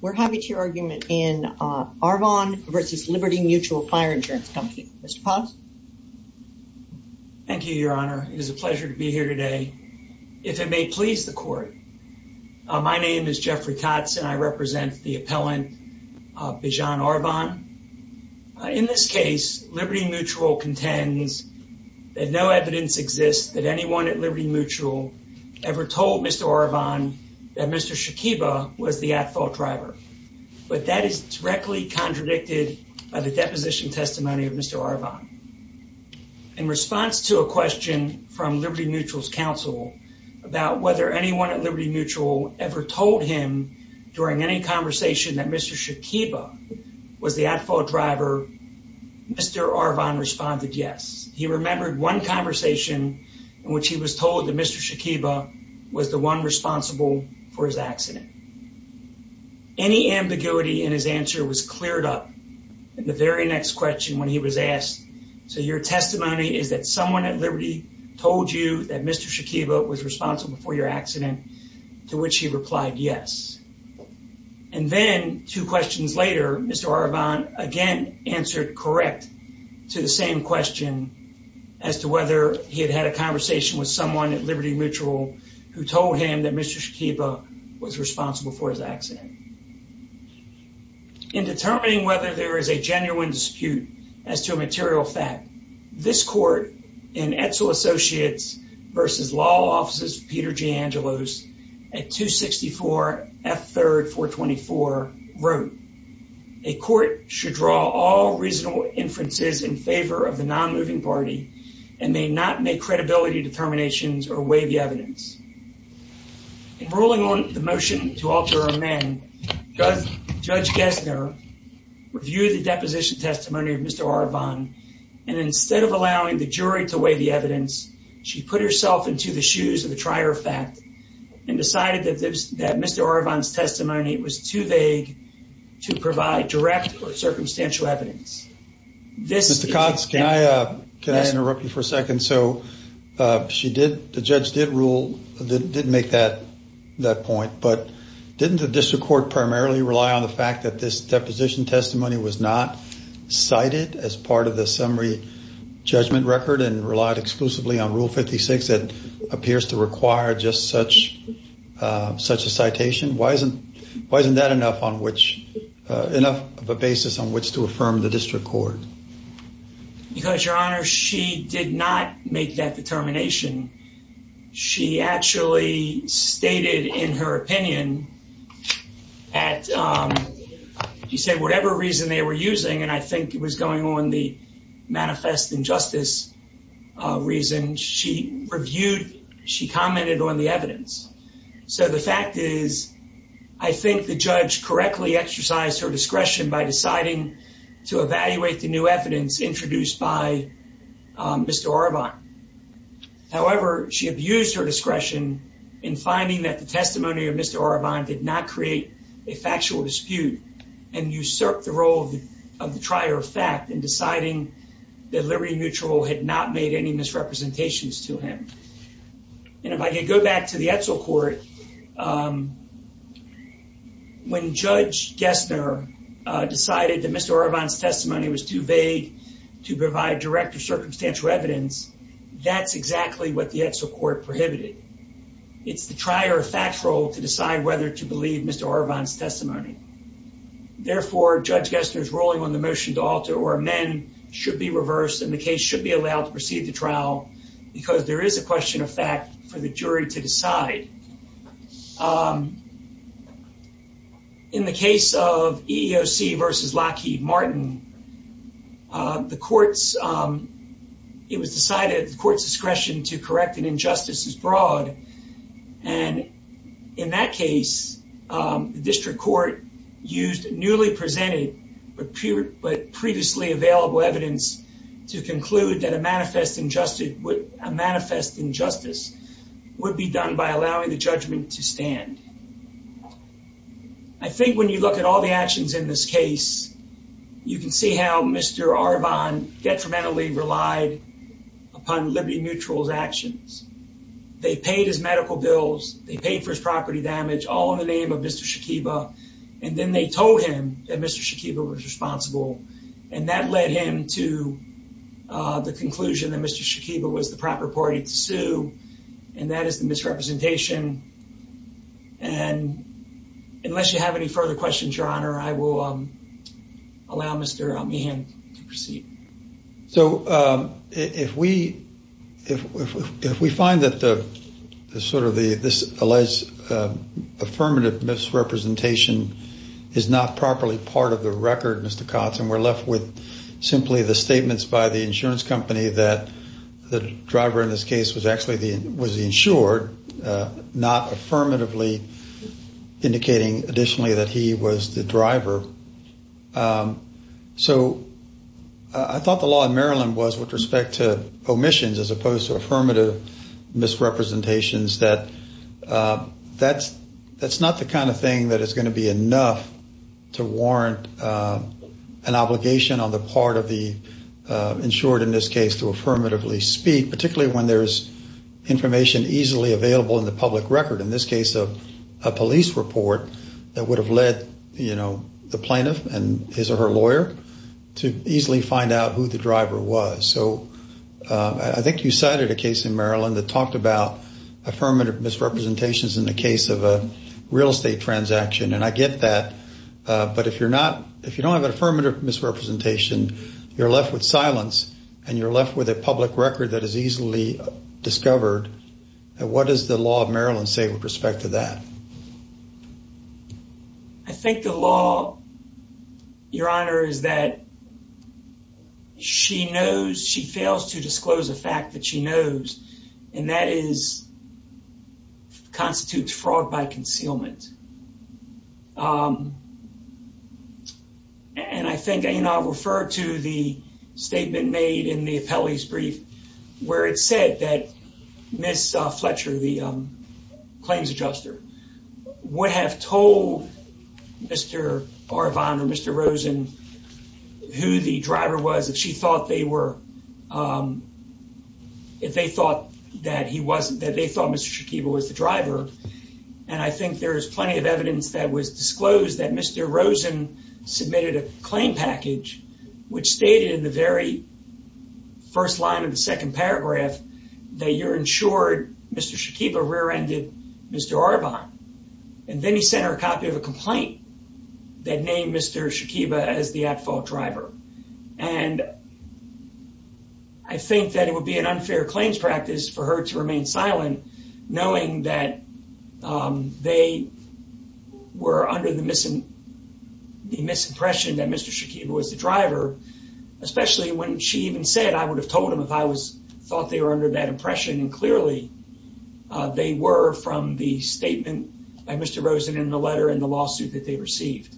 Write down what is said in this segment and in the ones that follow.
We're happy to hear argument in Arvon v. Liberty Mutual Fire Insurance Company. Mr. Paz. Thank you, Your Honor. It is a pleasure to be here today. If it may please the Court, my name is Jeffrey Tots and I represent the appellant, Biejan Arvon. In this case, Liberty Mutual contends that no evidence exists that anyone at Liberty Mutual ever told Mr. Arvon that Mr. Shakiba was the at-fault driver, but that is directly contradicted by the deposition testimony of Mr. Arvon. In response to a question from Liberty Mutual's counsel about whether anyone at Liberty Mutual ever told him during any conversation that Mr. Shakiba was the at-fault driver, Mr. Arvon responded yes. He remembered one conversation in which he was told that Mr. Shakiba was the one responsible for his accident. Any ambiguity in his answer was cleared up in the very next question when he was asked, so your testimony is that someone at Liberty told you that Mr. Shakiba was responsible for your accident, to which he replied yes. And then two questions later, Mr. Arvon again answered correct to the same question as to whether he had had a conversation with someone at Liberty Mutual who told him that Mr. Shakiba was responsible for his accident. In determining whether there is a genuine dispute as to a material fact, this court in Edsel reasonable inferences in favor of the non-moving party and may not make credibility determinations or weigh the evidence. In ruling on the motion to alter amend, Judge Gesner reviewed the deposition testimony of Mr. Arvon, and instead of allowing the jury to weigh the evidence, she put herself into the shoes of the trier of fact and decided that Mr. Arvon's testimony was too vague to this. Mr. Cox, can I interrupt you for a second? So she did, the judge did rule, didn't make that point, but didn't the district court primarily rely on the fact that this deposition testimony was not cited as part of the summary judgment record and relied exclusively on Rule 56 that appears to require just such a citation? Why isn't that enough on which, enough of a basis on which to affirm the district court? Because your honor, she did not make that determination. She actually stated in her opinion at, she said whatever reason they were using, and I think it was going on the manifest injustice reason, she reviewed, she commented on the discretion by deciding to evaluate the new evidence introduced by Mr. Arvon. However, she abused her discretion in finding that the testimony of Mr. Arvon did not create a factual dispute and usurped the role of the trier of fact in deciding that Liberty Mutual had not made any misrepresentations to him. And if I could go back to the Edsel court, when Judge Gessner decided that Mr. Arvon's testimony was too vague to provide direct or circumstantial evidence, that's exactly what the Edsel court prohibited. It's the trier of factual to decide whether to believe Mr. Arvon's testimony. Therefore, Judge Gessner's ruling on the motion to alter or amend should be reversed and the case should be allowed to proceed to trial because there is a question of fact for the jury to decide. In the case of EEOC versus Lockheed Martin, it was decided the court's discretion to correct an injustice is broad. And in that case, the district court used newly presented but previously available evidence to conclude that a manifest injustice would be done by allowing the judgment to stand. I think when you look at all the actions in this case, you can see how Mr. Arvon detrimentally relied upon Liberty Mutual's actions. They paid his medical bills. They paid for his property damage all in the name of Mr. Shakiba. And then they told him that Mr. Shakiba was responsible. And that led him to the conclusion that Mr. Shakiba was the proper party to sue. And that is the misrepresentation. And unless you have any further questions, Your Honor, I will allow Mr. Meehan to proceed. So, if we find that the sort of the, this properly part of the record, Mr. Kotz, and we're left with simply the statements by the insurance company that the driver in this case was actually the, was insured, not affirmatively indicating additionally that he was the driver. So, I thought the law in Maryland was with respect to omissions as opposed to affirmative misrepresentations that that's not the kind of thing that is going to be enough to warrant an obligation on the part of the insured in this case to affirmatively speak, particularly when there's information easily available in the public record. In this case, a police report that would have led, you know, the plaintiff and his or her lawyer to easily find out who the driver was. So, I think you cited a case in Maryland that talked about affirmative misrepresentations in the case of a real estate transaction. And I get that. But if you're not, if you don't have an affirmative misrepresentation, you're left with silence and you're left with a public record that is easily discovered. And what does the law of Maryland say with respect to that? I think the law, Your Honor, is that she knows, she fails to disclose the fact that she knows. And that is, constitutes fraud by concealment. And I think, you know, I referred to the statement made in the appellee's brief where it said that Ms. Fletcher, the claims adjuster, would have told Mr. Arvan or Mr. Rosen who the driver was if she thought they were, if they thought that he wasn't, that they thought Mr. Shakiba was the driver. And I think there is plenty of evidence that was disclosed that Mr. Rosen submitted a claim package which stated in the very first line of the second paragraph that you're insured Mr. Shakiba rear-ended Mr. Arvan. And then he sent her a copy of a complaint that named Mr. Shakiba as the at-fault driver. And I think that it would be an unfair claims practice for her to remain silent knowing that they were under the misimpression that Mr. Shakiba was the driver, especially when she even said, I would have told him if I thought they were under that impression. And clearly, they were from the statement by Mr. Rosen in the letter and the lawsuit that they received.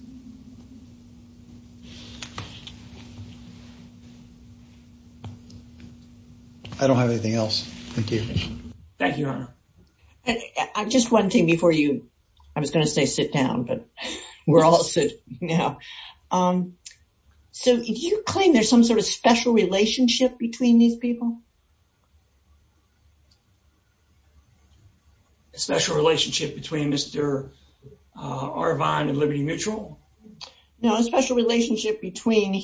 I don't have anything else. Thank you. Thank you, Your Honor. Just one thing before you, I was going to say sit down, but we're all sitting now. So do you claim there's some sort of special relationship between these people? A special relationship between Mr. Arvan and Liberty Mutual? No, a special relationship between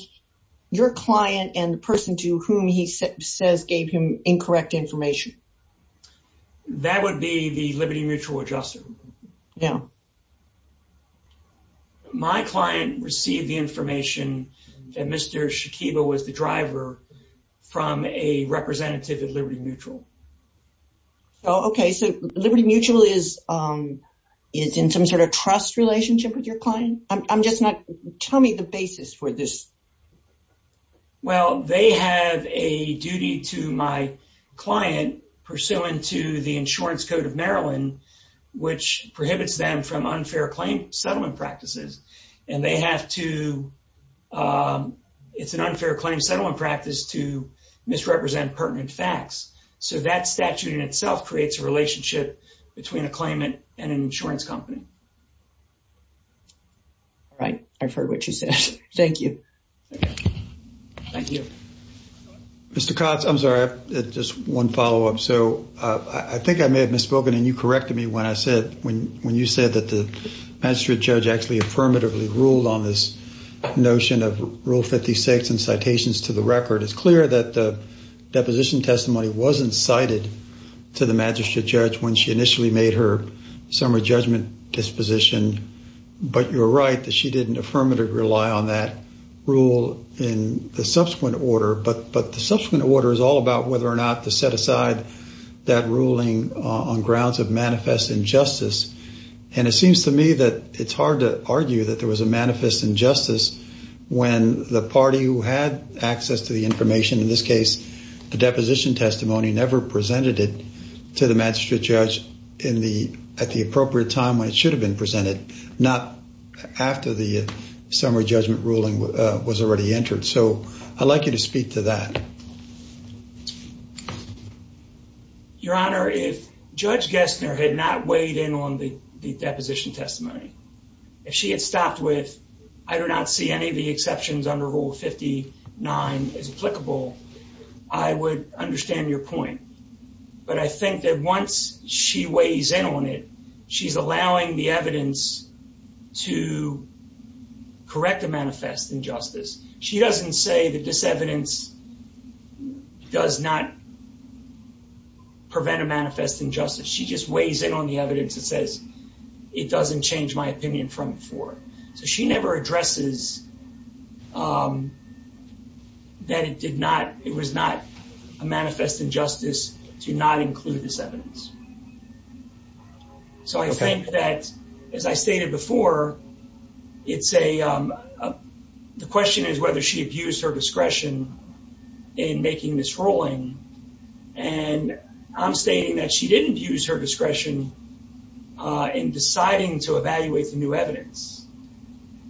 your client and the person to whom he says gave him incorrect information. That would be the Liberty Mutual adjuster. Yeah. My client received the information that Mr. Shakiba was the driver from a record representative at Liberty Mutual. Oh, okay. So Liberty Mutual is in some sort of trust relationship with your client? I'm just not, tell me the basis for this. Well, they have a duty to my client pursuant to the Insurance Code of Maryland, which prohibits them from unfair claim settlement practices. And they have to, um, it's an unfair claim settlement practice to misrepresent pertinent facts. So that statute in itself creates a relationship between a claimant and an insurance company. All right. I've heard what you said. Thank you. Thank you. Mr. Cox, I'm sorry, just one follow up. So I think I may have misspoken and you corrected me when I said, when, when you said that the magistrate judge actually affirmatively ruled on this notion of rule 56 and citations to the record, it's clear that the deposition testimony wasn't cited to the magistrate judge when she initially made her summary judgment disposition. But you're right that she didn't affirmatively rely on that rule in the subsequent order. But, but the subsequent order is all about whether or not to set aside that ruling on of manifest injustice. And it seems to me that it's hard to argue that there was a manifest injustice when the party who had access to the information in this case, the deposition testimony never presented it to the magistrate judge in the, at the appropriate time when it should have been presented, not after the summary judgment ruling was already entered. So I'd like you to speak to that. Your honor, if judge Gessner had not weighed in on the deposition testimony, if she had stopped with, I do not see any of the exceptions under rule 59 as applicable, I would understand your point. But I think that once she weighs in on it, she's allowing the evidence does not prevent a manifest injustice. She just weighs in on the evidence that says, it doesn't change my opinion from before. So she never addresses that it did not, it was not a manifest injustice to not include this evidence. So I think that as I stated before, it's a, the question is whether she abused her discretion in making this ruling. And I'm stating that she didn't use her discretion in deciding to evaluate the new evidence.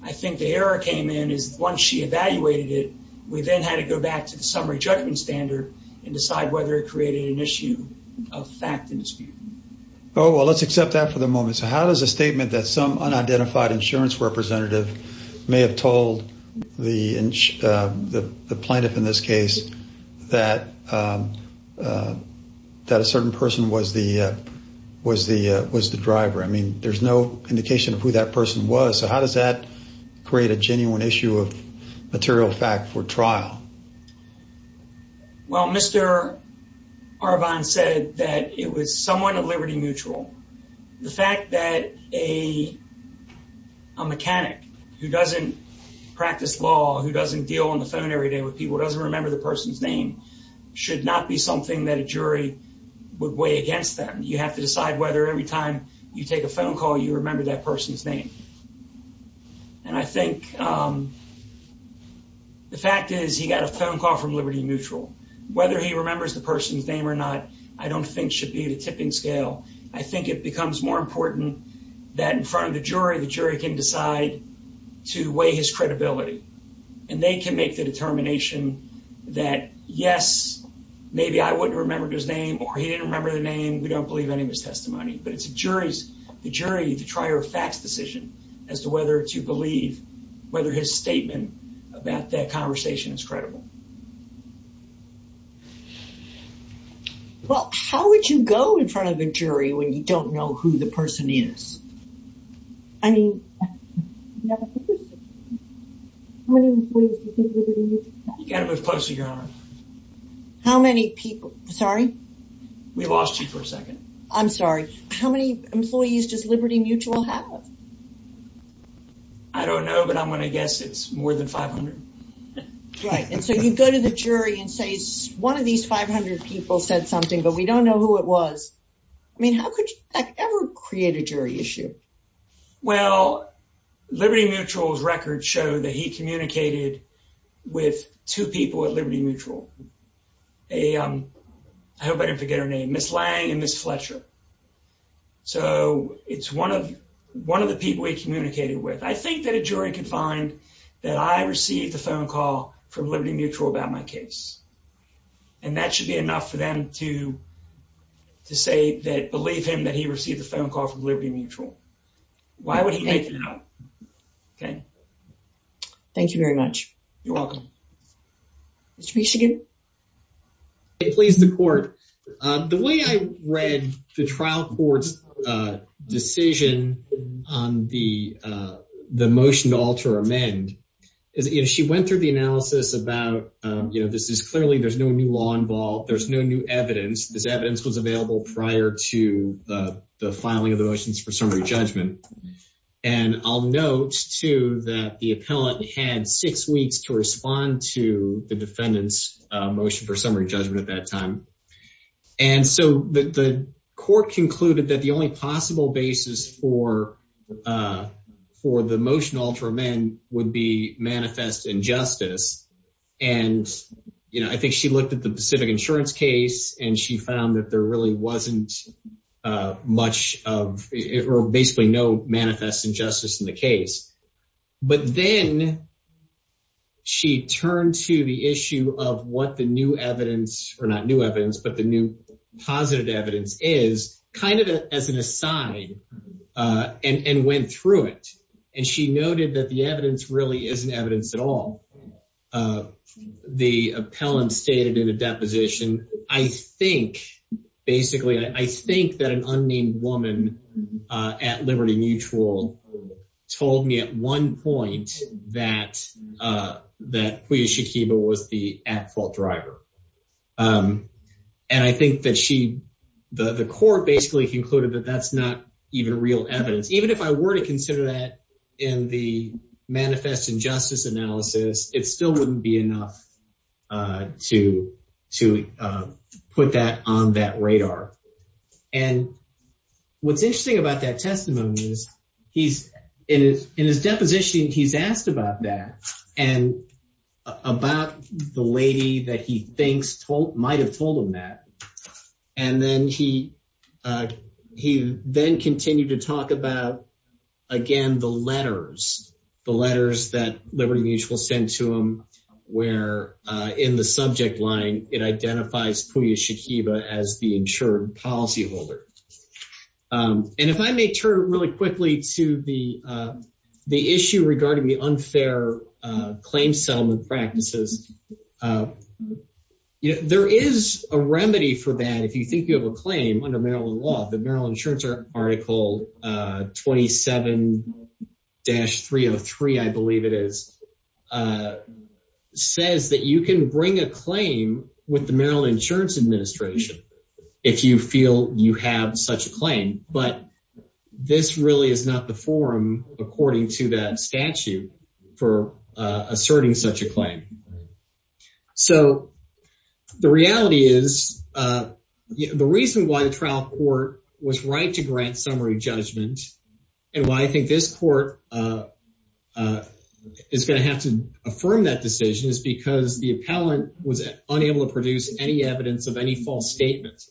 I think the error came in is once she evaluated it, we then had to go back to the summary judgment standard and decide whether it created an issue of fact and dispute. Oh, well, let's accept that for the moment. So how does a statement that some unidentified insurance representative may have told the plaintiff in this case, that a certain person was the driver? I mean, there's no indication of who that person was. So how does that create a genuine issue of material fact for trial? Well, Mr. Arvan said that it was somewhat of liberty mutual. The fact that a mechanic who doesn't practice law, who doesn't deal on the phone every day with people, doesn't remember the person's name should not be something that a jury would weigh against them. You have to decide whether every time you take a phone call, you remember that person's name. And I think the fact is he got a phone call from liberty mutual. Whether he remembers the person's name or not, I don't think should be the tipping scale. I think it becomes more important that in front of the jury, the jury can decide to weigh his credibility and they can make the determination that yes, maybe I wouldn't remember his name or he didn't remember the name. We don't believe any of his testimony, but it's the jury, the trier of facts decision as to whether to believe whether his statement about that conversation is credible. Well, how would you go in front of a jury when you don't know who the person is? I mean, how many employees does liberty mutual have? You got to move closer, Your Honor. How many people? Sorry? We lost you for a second. I'm sorry. How many employees does liberty mutual have? I don't know, but I'm going to guess it's more than 500. Right. And so you go to the jury and say one of these 500 people said something, but we don't know who it was. I mean, how could you ever create a jury issue? Well, liberty mutual's records show that he communicated with two people at liberty mutual. I hope I didn't forget her name, Ms. Lang and Ms. Fletcher. So it's one of the people he communicated with. I think that a jury can find that I received the phone call from liberty mutual about my case, and that should be enough for them to say that, believe him, that he received the phone call from liberty mutual. Why would he make it up? Thank you very much. You're welcome. Mr. Bishigin. Okay. Please, the court. The way I read the trial court's decision on the motion to alter or amend is she went through the analysis about, you know, this is clearly there's no new law involved. There's no new evidence. This evidence was available prior to the filing of the motions for summary judgment. And I'll note, too, that the appellate had six weeks to respond to the defendant's motion for summary judgment at that time. And so the court concluded that the only possible basis for the motion to alter or amend would be manifest injustice. And, you know, I think she looked at the Pacific Insurance case, and she found that there really wasn't much of, or basically no manifest injustice in the case. But then she turned to the issue of what the new evidence, or not new evidence, but the new positive evidence is, kind of as an aside, and went through it. And she noted that the evidence really isn't evidence at all. The appellant stated in a deposition, I think, basically, I think that an unnamed woman at Liberty Mutual told me at one point that Pouya Shakiba was the at-fault driver. And I think that she, the court basically concluded that that's not even real evidence. Even if I were to consider that in the manifest injustice analysis, it still wouldn't be enough to put that on that radar. And what's interesting about that testimony is he's, in his deposition, he's asked about that, and about the lady that he thinks might have told him that. And then he then continued to talk about, again, the letters, the letters that Liberty Mutual sent to him where, in the subject line, it identifies Pouya Shakiba as the insured policy holder. And if I may turn really quickly to the issue regarding the unfair claim settlement practices, there is a remedy for that if you think you have a claim under Maryland law, the Maryland Insurance Article 27-303, I believe it is, says that you can bring a claim with the Maryland Insurance Administration if you feel you have such a claim. But this really is not the forum, according to that statute, for asserting such a claim. So the reality is, the reason why the trial court was right to grant summary judgment and why I think this court is going to have to affirm that decision is because the appellant was unable to produce any evidence of any false statements.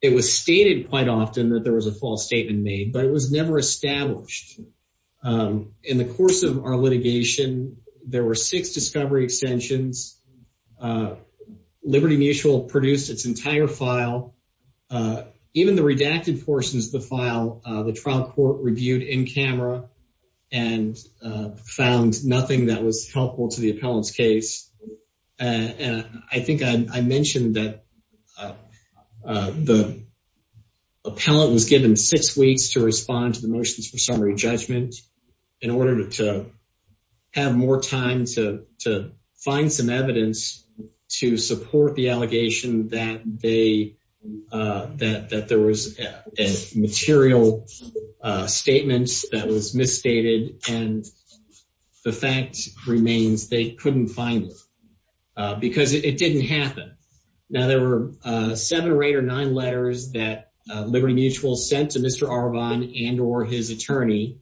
It was stated quite often that there was a false statement made, but it was never established. In the course of our litigation, there were six discovery extensions Liberty Mutual produced its entire file. Even the redacted portions of the file, the trial court reviewed in camera and found nothing that was helpful to the appellant's case. And I think I mentioned that the appellant was given six weeks to respond to the motions for finding some evidence to support the allegation that there was a material statement that was misstated and the fact remains they couldn't find it because it didn't happen. Now there were seven or eight or nine letters that Liberty Mutual sent to Mr. Arvan and or his attorney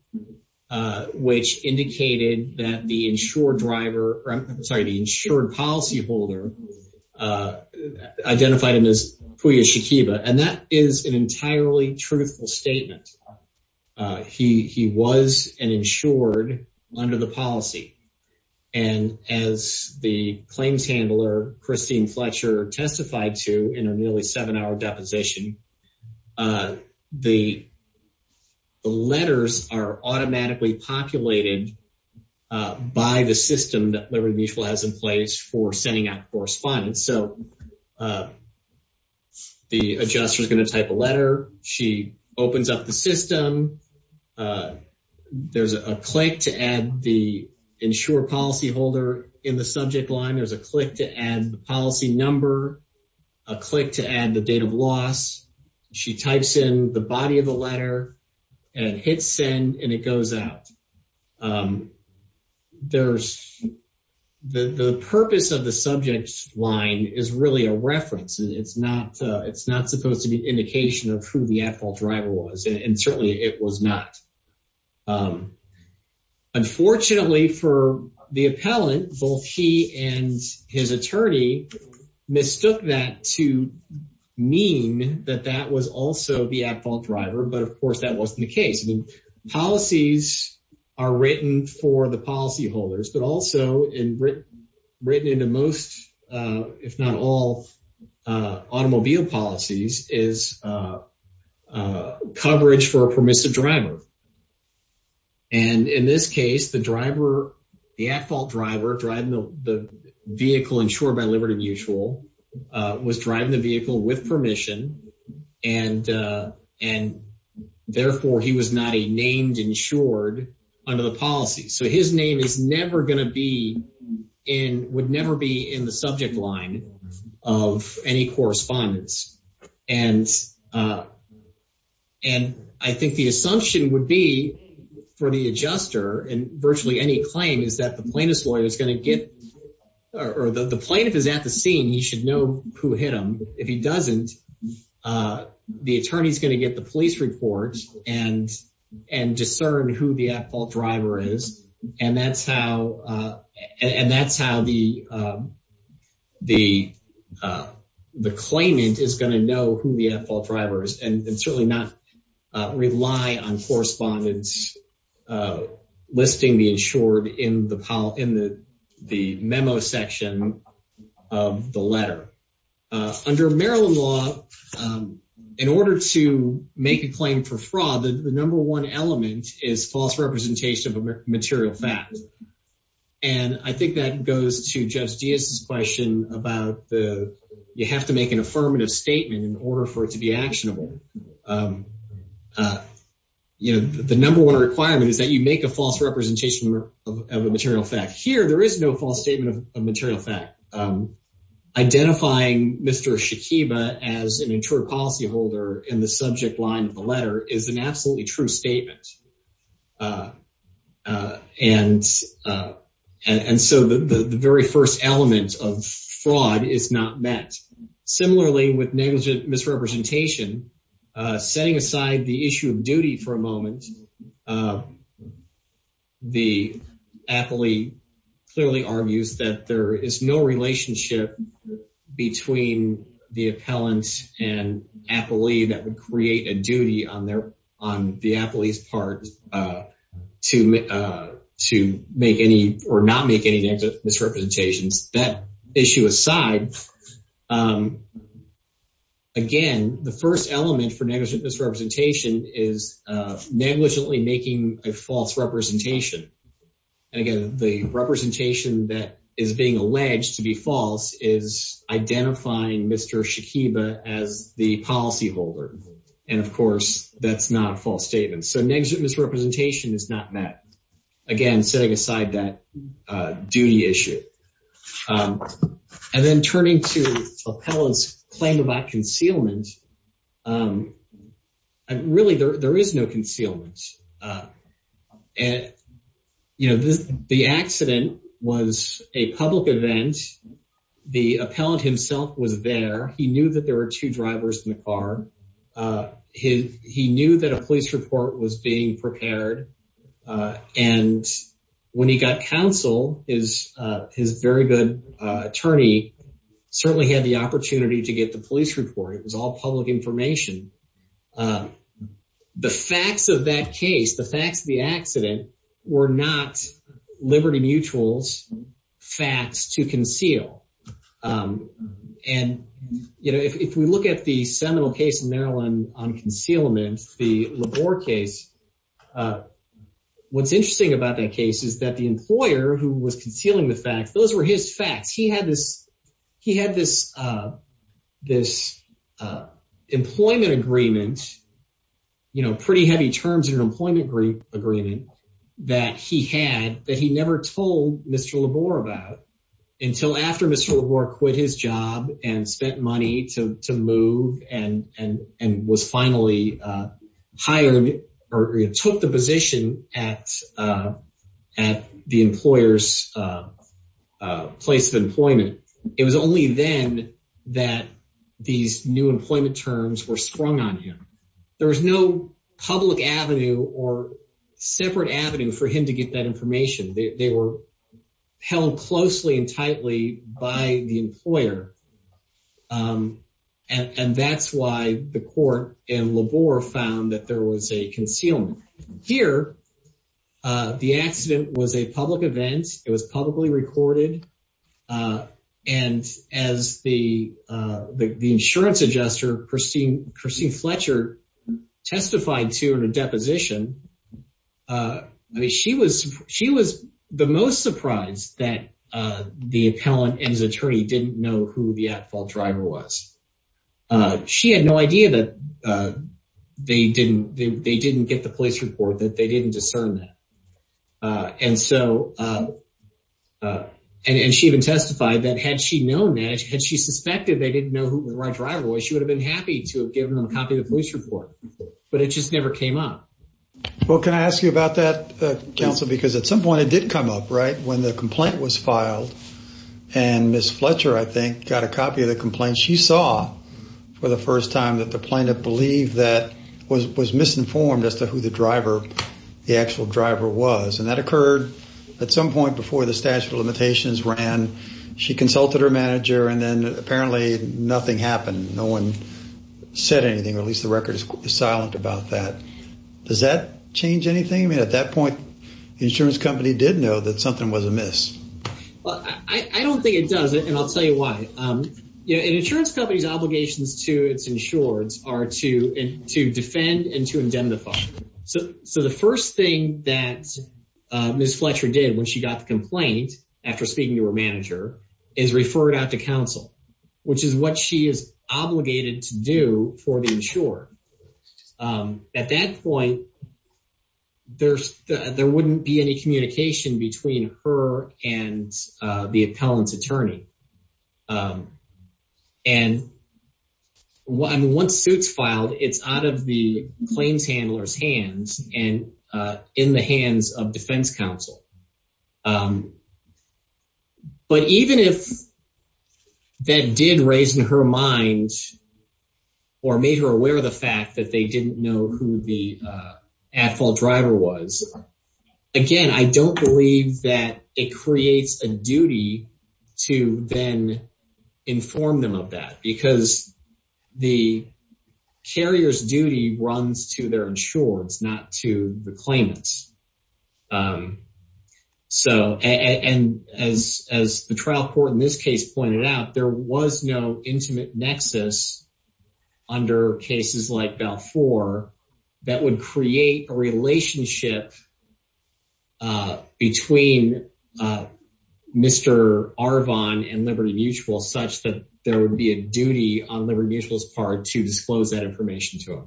uh which indicated that the insured driver or I'm sorry the insured policy holder identified him as Pouya Shakiba and that is an entirely truthful statement. He was an insured under the policy and as the claims handler Christine Fletcher testified to in a nearly seven-hour deposition, the letters are automatically populated by the system that Liberty Mutual has in place for sending out correspondence. So the adjuster is going to type a letter, she opens up the system, there's a click to add the insured policy holder in the date of loss, she types in the body of the letter and hit send and it goes out. There's the purpose of the subject line is really a reference. It's not supposed to be an indication of who the at-fault driver was and certainly it was not. Unfortunately for the appellant, both he and his attorney mistook that to mean that that was also the at-fault driver but of course that wasn't the case. The policies are written for the policy holders but also in written into most if not all automobile policies is coverage for a permissive driver and in this case the driver, the at-fault driver driving the vehicle insured by Liberty Mutual was driving the vehicle with permission and therefore he was not a named insured under the policy. So his name is never going to be in, would never be in the subject line of any correspondence and I think the assumption would be for the adjuster and virtually any claim is that the plaintiff's lawyer is going to get or the plaintiff is at the scene, he should know who hit him. If he doesn't, the attorney's going to get the police report and discern who the the claimant is going to know who the at-fault driver is and certainly not rely on correspondence listing the insured in the memo section of the letter. Under Maryland law, in order to make a claim for fraud, the number one element is false representation of a material fact and I think that goes to Judge Diaz's question about the you have to make an affirmative statement in order for it to be actionable. You know the number one requirement is that you make a false representation of a material fact. Here there is no false statement of a material fact. Identifying Mr. Shakiba as an intruder policy holder in the subject line of the letter is an absolutely true statement and so the very first element of fraud is not met. Similarly with negligent misrepresentation, setting aside the issue of duty for a moment, the appellee clearly argues that there is no relationship between the appellant and appellee that would create a duty on their on the appellee's part to make any or not make any negative misrepresentations. That issue aside, again the first element for negligent misrepresentation is negligently making a false representation and again the representation that is being alleged to be false is identifying Mr. Shakiba as the policy holder and of course that's not a false statement. So negligent misrepresentation is not met, again setting aside that duty issue. And then turning to appellant's claim about concealment, really there is no concealment. And you know this the accident was a public event, the appellant himself was there, he knew that there were two drivers in the car, he knew that a police report was being prepared and when he got counsel, his very good attorney certainly had the opportunity to get the the facts of the accident were not Liberty Mutual's facts to conceal. And you know if we look at the seminal case in Maryland on concealment, the Labor case, what's interesting about that case is that the employer who was concealing the facts, those were his facts. He had this employment agreement, you know pretty heavy terms in an employment agreement that he had that he never told Mr. Labor about until after Mr. Labor quit his job and spent money to move and was finally hired or took the position at the employer's place of employment. It was only then that these new employment terms were sprung on him. There was no public avenue or separate avenue for him to get that information. They were held closely and tightly by the employer and that's why the court in Labor found that there was a concealment. Here, the accident was a public event. It was publicly recorded and as the insurance adjuster Christine Fletcher testified to in a deposition, I mean she was the most surprised that the appellant and his attorney didn't know who the at-fault driver was. She had no idea that they didn't get the police report, that they didn't discern that. And she even testified that had she known that, had she suspected they didn't know who the right driver was, she would have been happy to have given them a copy of the police report, but it just never came up. Well, can I ask you about that, counsel, because at some point it did come up, right, when the complaint was filed and Ms. Fletcher, I think, got a copy of the complaint. She saw for the first time that the plaintiff believed that, was misinformed as to who the driver, the actual driver was, and that occurred at some point before the statute of limitations ran. She consulted her manager and then apparently nothing happened. No one said anything, or at least the record is silent about that. Does that change anything? I mean, at that point, the insurance company did know that something was amiss. Well, I don't think it does, and I'll tell you why. You know, an insurance company's obligations to its insureds are to defend and to indemnify. So, the first thing that Ms. Fletcher did when she got the complaint after speaking to her manager is refer it out to counsel, which is what she is obligated to do for the insured. At that point, there wouldn't be any communication between her and the appellant's attorney. And once it's filed, it's out of the claims handler's hands and in the hands of defense counsel. But even if that did raise in her mind or made her aware of the fact that they didn't know who the at-fault driver was, again, I don't believe that it creates a duty to then inform them of that because the carrier's duty runs to their insureds, not to the claimants. So, and as the trial court in this case pointed out, there was no intimate nexus under cases like Balfour that would create a relationship between Mr. Arvon and Liberty Mutual such that there would be a duty on Liberty Mutual's part to disclose that information to him.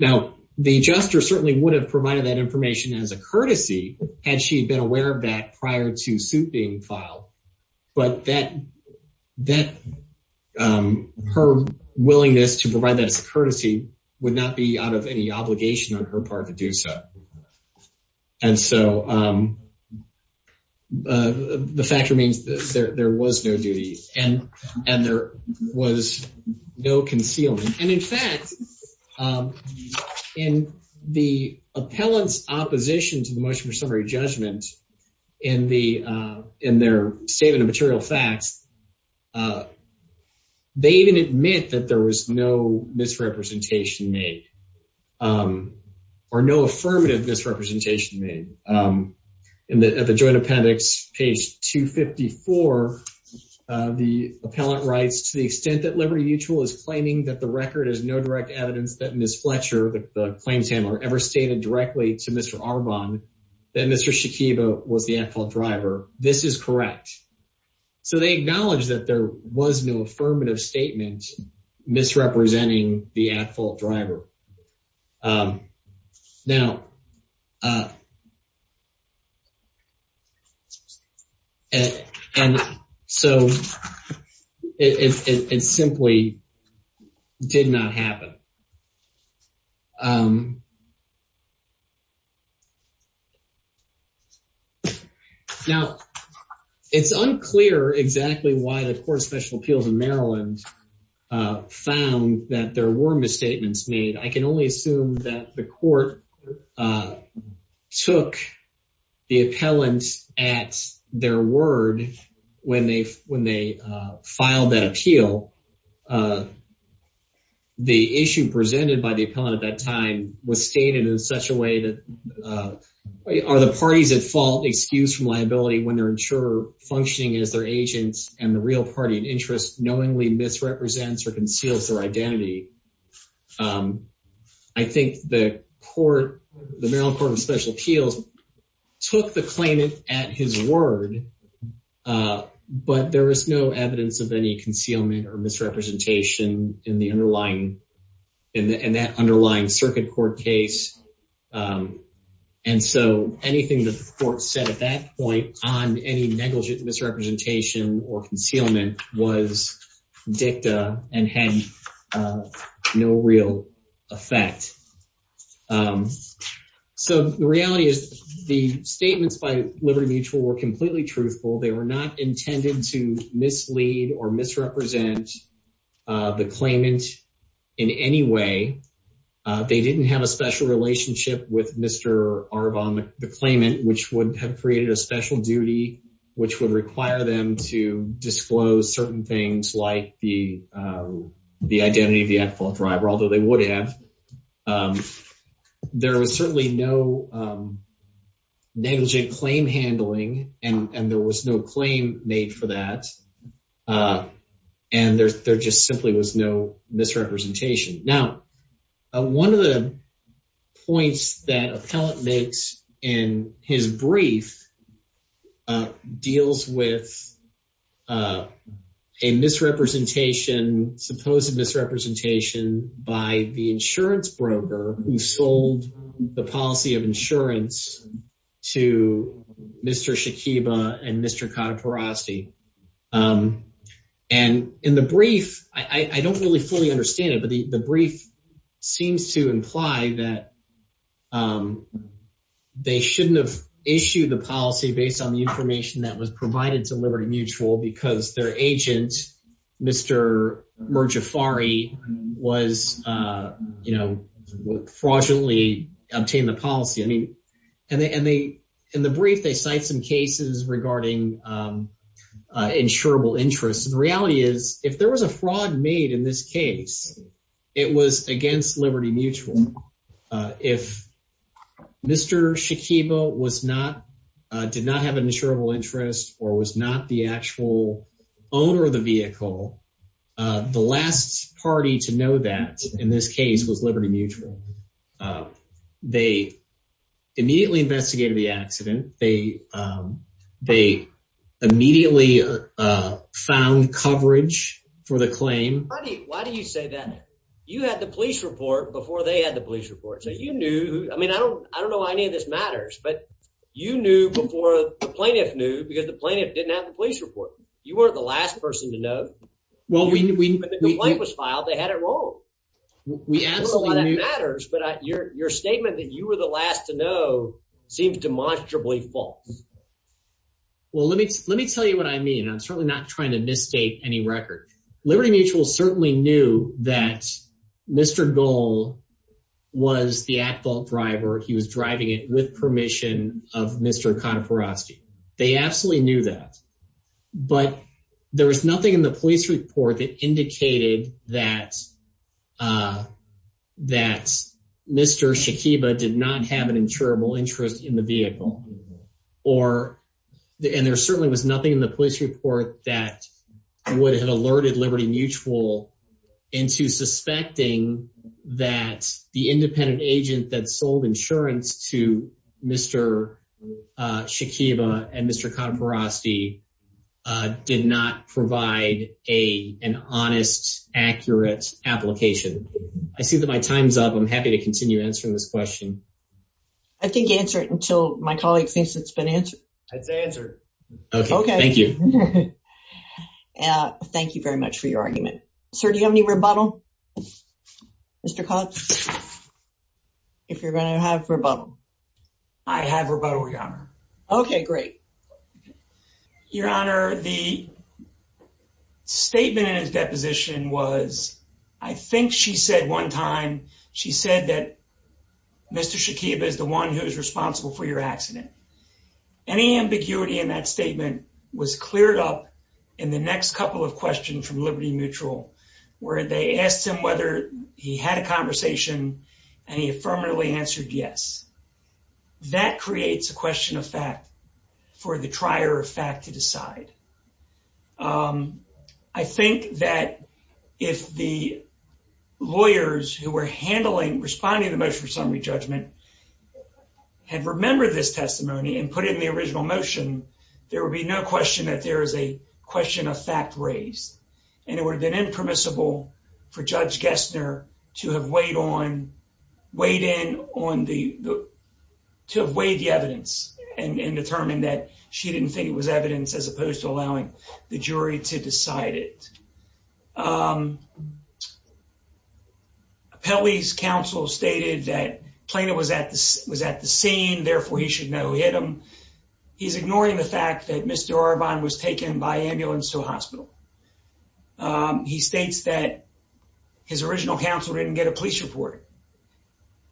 Now, the adjuster certainly would have provided that information as a courtesy, had she been aware of that prior to suit being filed. But her willingness to provide that as a courtesy would not be out of any obligation on her part to do so. And so, the fact remains that there was no duty and there was no concealment. And in fact, in the appellant's opposition to motion for summary judgment in their statement of material facts, they didn't admit that there was no misrepresentation made or no affirmative misrepresentation made. At the joint appendix, page 254, the appellant writes, to the extent that Liberty Mutual is claiming that the record is no direct evidence that Ms. Fletcher, the claims handler, ever stated directly to Mr. Arvon, that Mr. Shakiba was the at-fault driver, this is correct. So, they acknowledge that there was no affirmative statement misrepresenting the at-fault driver. Now, and so, it simply did not happen. Now, it's unclear exactly why the Court of Special Appeals in Maryland found that there were misstatements made. I can only assume that the court took the appellant at their word when they filed that appeal. The issue presented by the appellant at time was stated in such a way that, are the parties at fault excused from liability when their insurer functioning as their agent and the real party of interest knowingly misrepresents or conceals their identity? I think the court, the Maryland Court of Special Appeals, took the claimant at his word, but there was no evidence of any concealment or misrepresentation in the underlying, in that underlying circuit court case. And so, anything the court said at that point on any negligent misrepresentation or concealment was dicta and had no real effect. So, the reality is the statements by Liberty Mutual were completely truthful. They were not in any way, they didn't have a special relationship with Mr. Arbon, the claimant, which would have created a special duty which would require them to disclose certain things like the identity of the appellant driver, although they would have. There was certainly no negligent claim handling, and there was no claim made for that. And there just simply was no misrepresentation. Now, one of the points that appellant makes in his brief deals with a misrepresentation, supposed misrepresentation by the insurance broker who sold the policy of insurance to Mr. Shakiba and Mr. Kadiporosti. And in the brief, I don't really fully understand it, but the brief seems to imply that they shouldn't have issued the policy based on the information that was provided to Liberty Mutual because their agent, Mr. Merjafari, was, you know, fraudulently obtained the policy. And in the brief, they cite some cases regarding insurable interest. The reality is, if there was a fraud made in this case, it was against Liberty Mutual. If Mr. Shakiba did not have an insurable interest or was not the insurable, they immediately investigated the accident. They immediately found coverage for the claim. Why do you say that? You had the police report before they had the police report, so you knew. I mean, I don't know why any of this matters, but you knew before the plaintiff knew because the plaintiff didn't have the police report. You weren't the last person to know. When the complaint was filed, they had it wrong. I don't know why that matters, but your statement that you were the last to know seems demonstrably false. Well, let me tell you what I mean. I'm certainly not trying to misstate any record. Liberty Mutual certainly knew that Mr. Goel was the at-fault driver. He was driving it with permission of Mr. Kataporoski. They absolutely knew that, but there was nothing in the police report that indicated that Mr. Shakiba did not have an insurable interest in the vehicle. There certainly was nothing in the police report that would have alerted Liberty Mutual into suspecting that the independent agent that sold insurance to Mr. Shakiba and Mr. Kataporoski did not provide an honest, accurate application. I see that my time's up. I'm happy to continue answering this question. I think answer it until my colleague thinks it's been answered. It's answered. Okay, thank you. Thank you very much for your argument. Sir, do you have any rebuttal? Mr. Cox, if you're going to have rebuttal. I have rebuttal, Your Honor. Okay, great. Your Honor, the statement in his deposition was, I think she said one time, she said that Mr. Shakiba is the one who is responsible for your accident. Any ambiguity in that statement was cleared up in the next couple of questions from Liberty Mutual, where they asked him whether he had a conversation and he affirmatively answered yes. That creates a question of fact for the trier of fact to decide. I think that if the lawyers who were responding to the motion for summary judgment had remembered this testimony and put it in the original motion, there would be no question that there is a question of fact raised, and it would have been impermissible for Judge Gessner to have allowed the jury to decide it. Appellee's counsel stated that Plano was at the scene, therefore he should know who hit him. He's ignoring the fact that Mr. Arbonne was taken by ambulance to a hospital. He states that his original counsel didn't get a police report.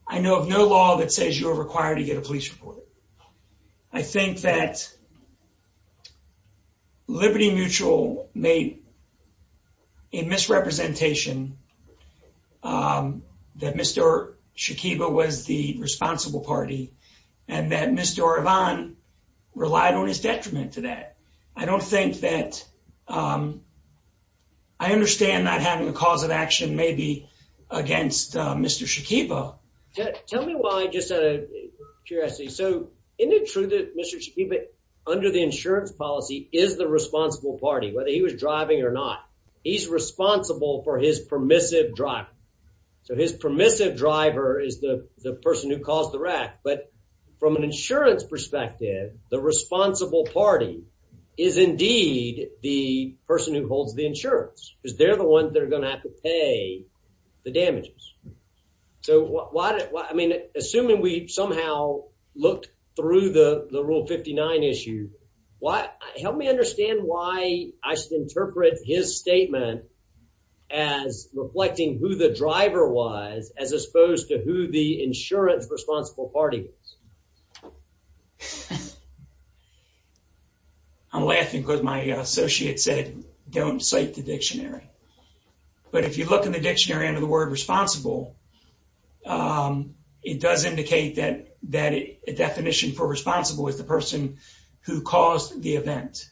I know of no law that says you're required to get a police report. I think that Liberty Mutual made a misrepresentation that Mr. Shakiba was the responsible party, and that Mr. Arbonne relied on his detriment to that. I understand not having a cause of action maybe against Mr. Shakiba. Tell me why, just out of curiosity. Isn't it true that Mr. Shakiba, under the insurance policy, is the responsible party, whether he was driving or not? He's responsible for his permissive driver. His permissive driver is the person who caused the wreck, but from an insurance perspective, the responsible party is indeed the person who holds the insurance, because they're the ones that are going to have to pay the damages. Assuming we somehow looked through the Rule 59 issue, help me understand why I should interpret his statement as reflecting who the driver was as opposed to who the insurance responsible party is. I'm laughing because my associate said don't cite the dictionary, but if you look in the definition for responsible, it's the person who caused the event.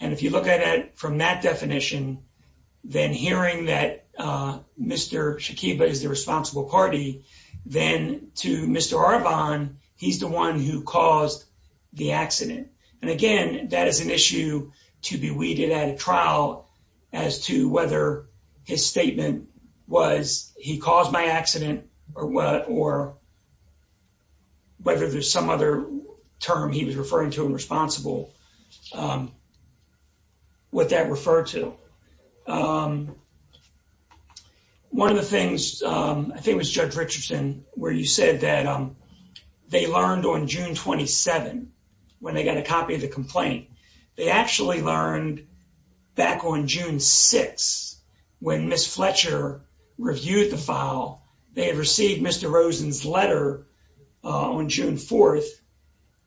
If you look at it from that definition, then hearing that Mr. Shakiba is the responsible party, then to Mr. Arbonne, he's the one who caused the accident. Again, that is an issue to be weeded at a trial as to whether his statement was he caused my accident or whether there's some other term he was referring to in responsible, what that referred to. One of the things, I think it was Judge Richardson, where you said that they learned on June 27, when they got a copy of the complaint, they actually learned back on June 6, when Ms. Fletcher reviewed the file, they had received Mr. Rosen's letter on June 4.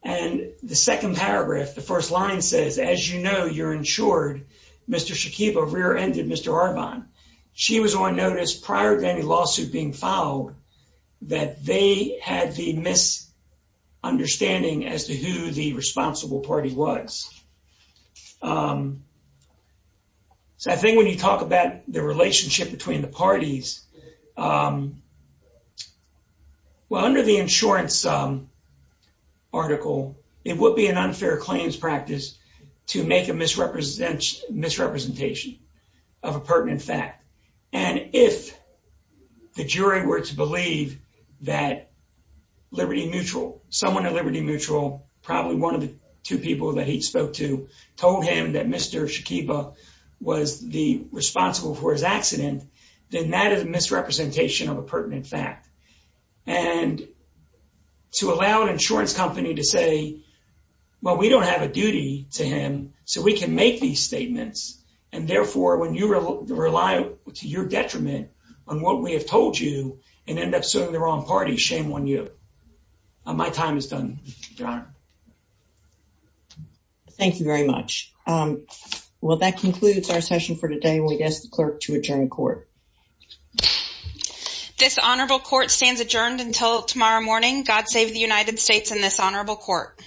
The second paragraph, the first line says, as you know, you're insured. Mr. Shakiba rear-ended Mr. Arbonne. She was on notice prior to any lawsuit being filed that they had the misunderstanding as to who the responsible party was. I think when you talk about the relationship between the parties, under the insurance article, it would be an unfair claims practice to make a misrepresentation of a pertinent fact. And if the jury were to believe that Liberty Mutual, someone at Liberty Mutual, probably one of the two people that he spoke to, told him that Mr. Shakiba was the responsible for his accident, then that is a misrepresentation of a pertinent fact. And to allow an insurance company to say, well, we don't have a duty to him, so we can make these statements. And therefore, when you rely to your detriment on what we have told you and end up suing the wrong party, shame on you. My time is done, Your Honor. Thank you very much. Well, that concludes our session for today, and we ask the clerk to adjourn court. This honorable court stands adjourned until tomorrow morning. God save the United States and this honorable court.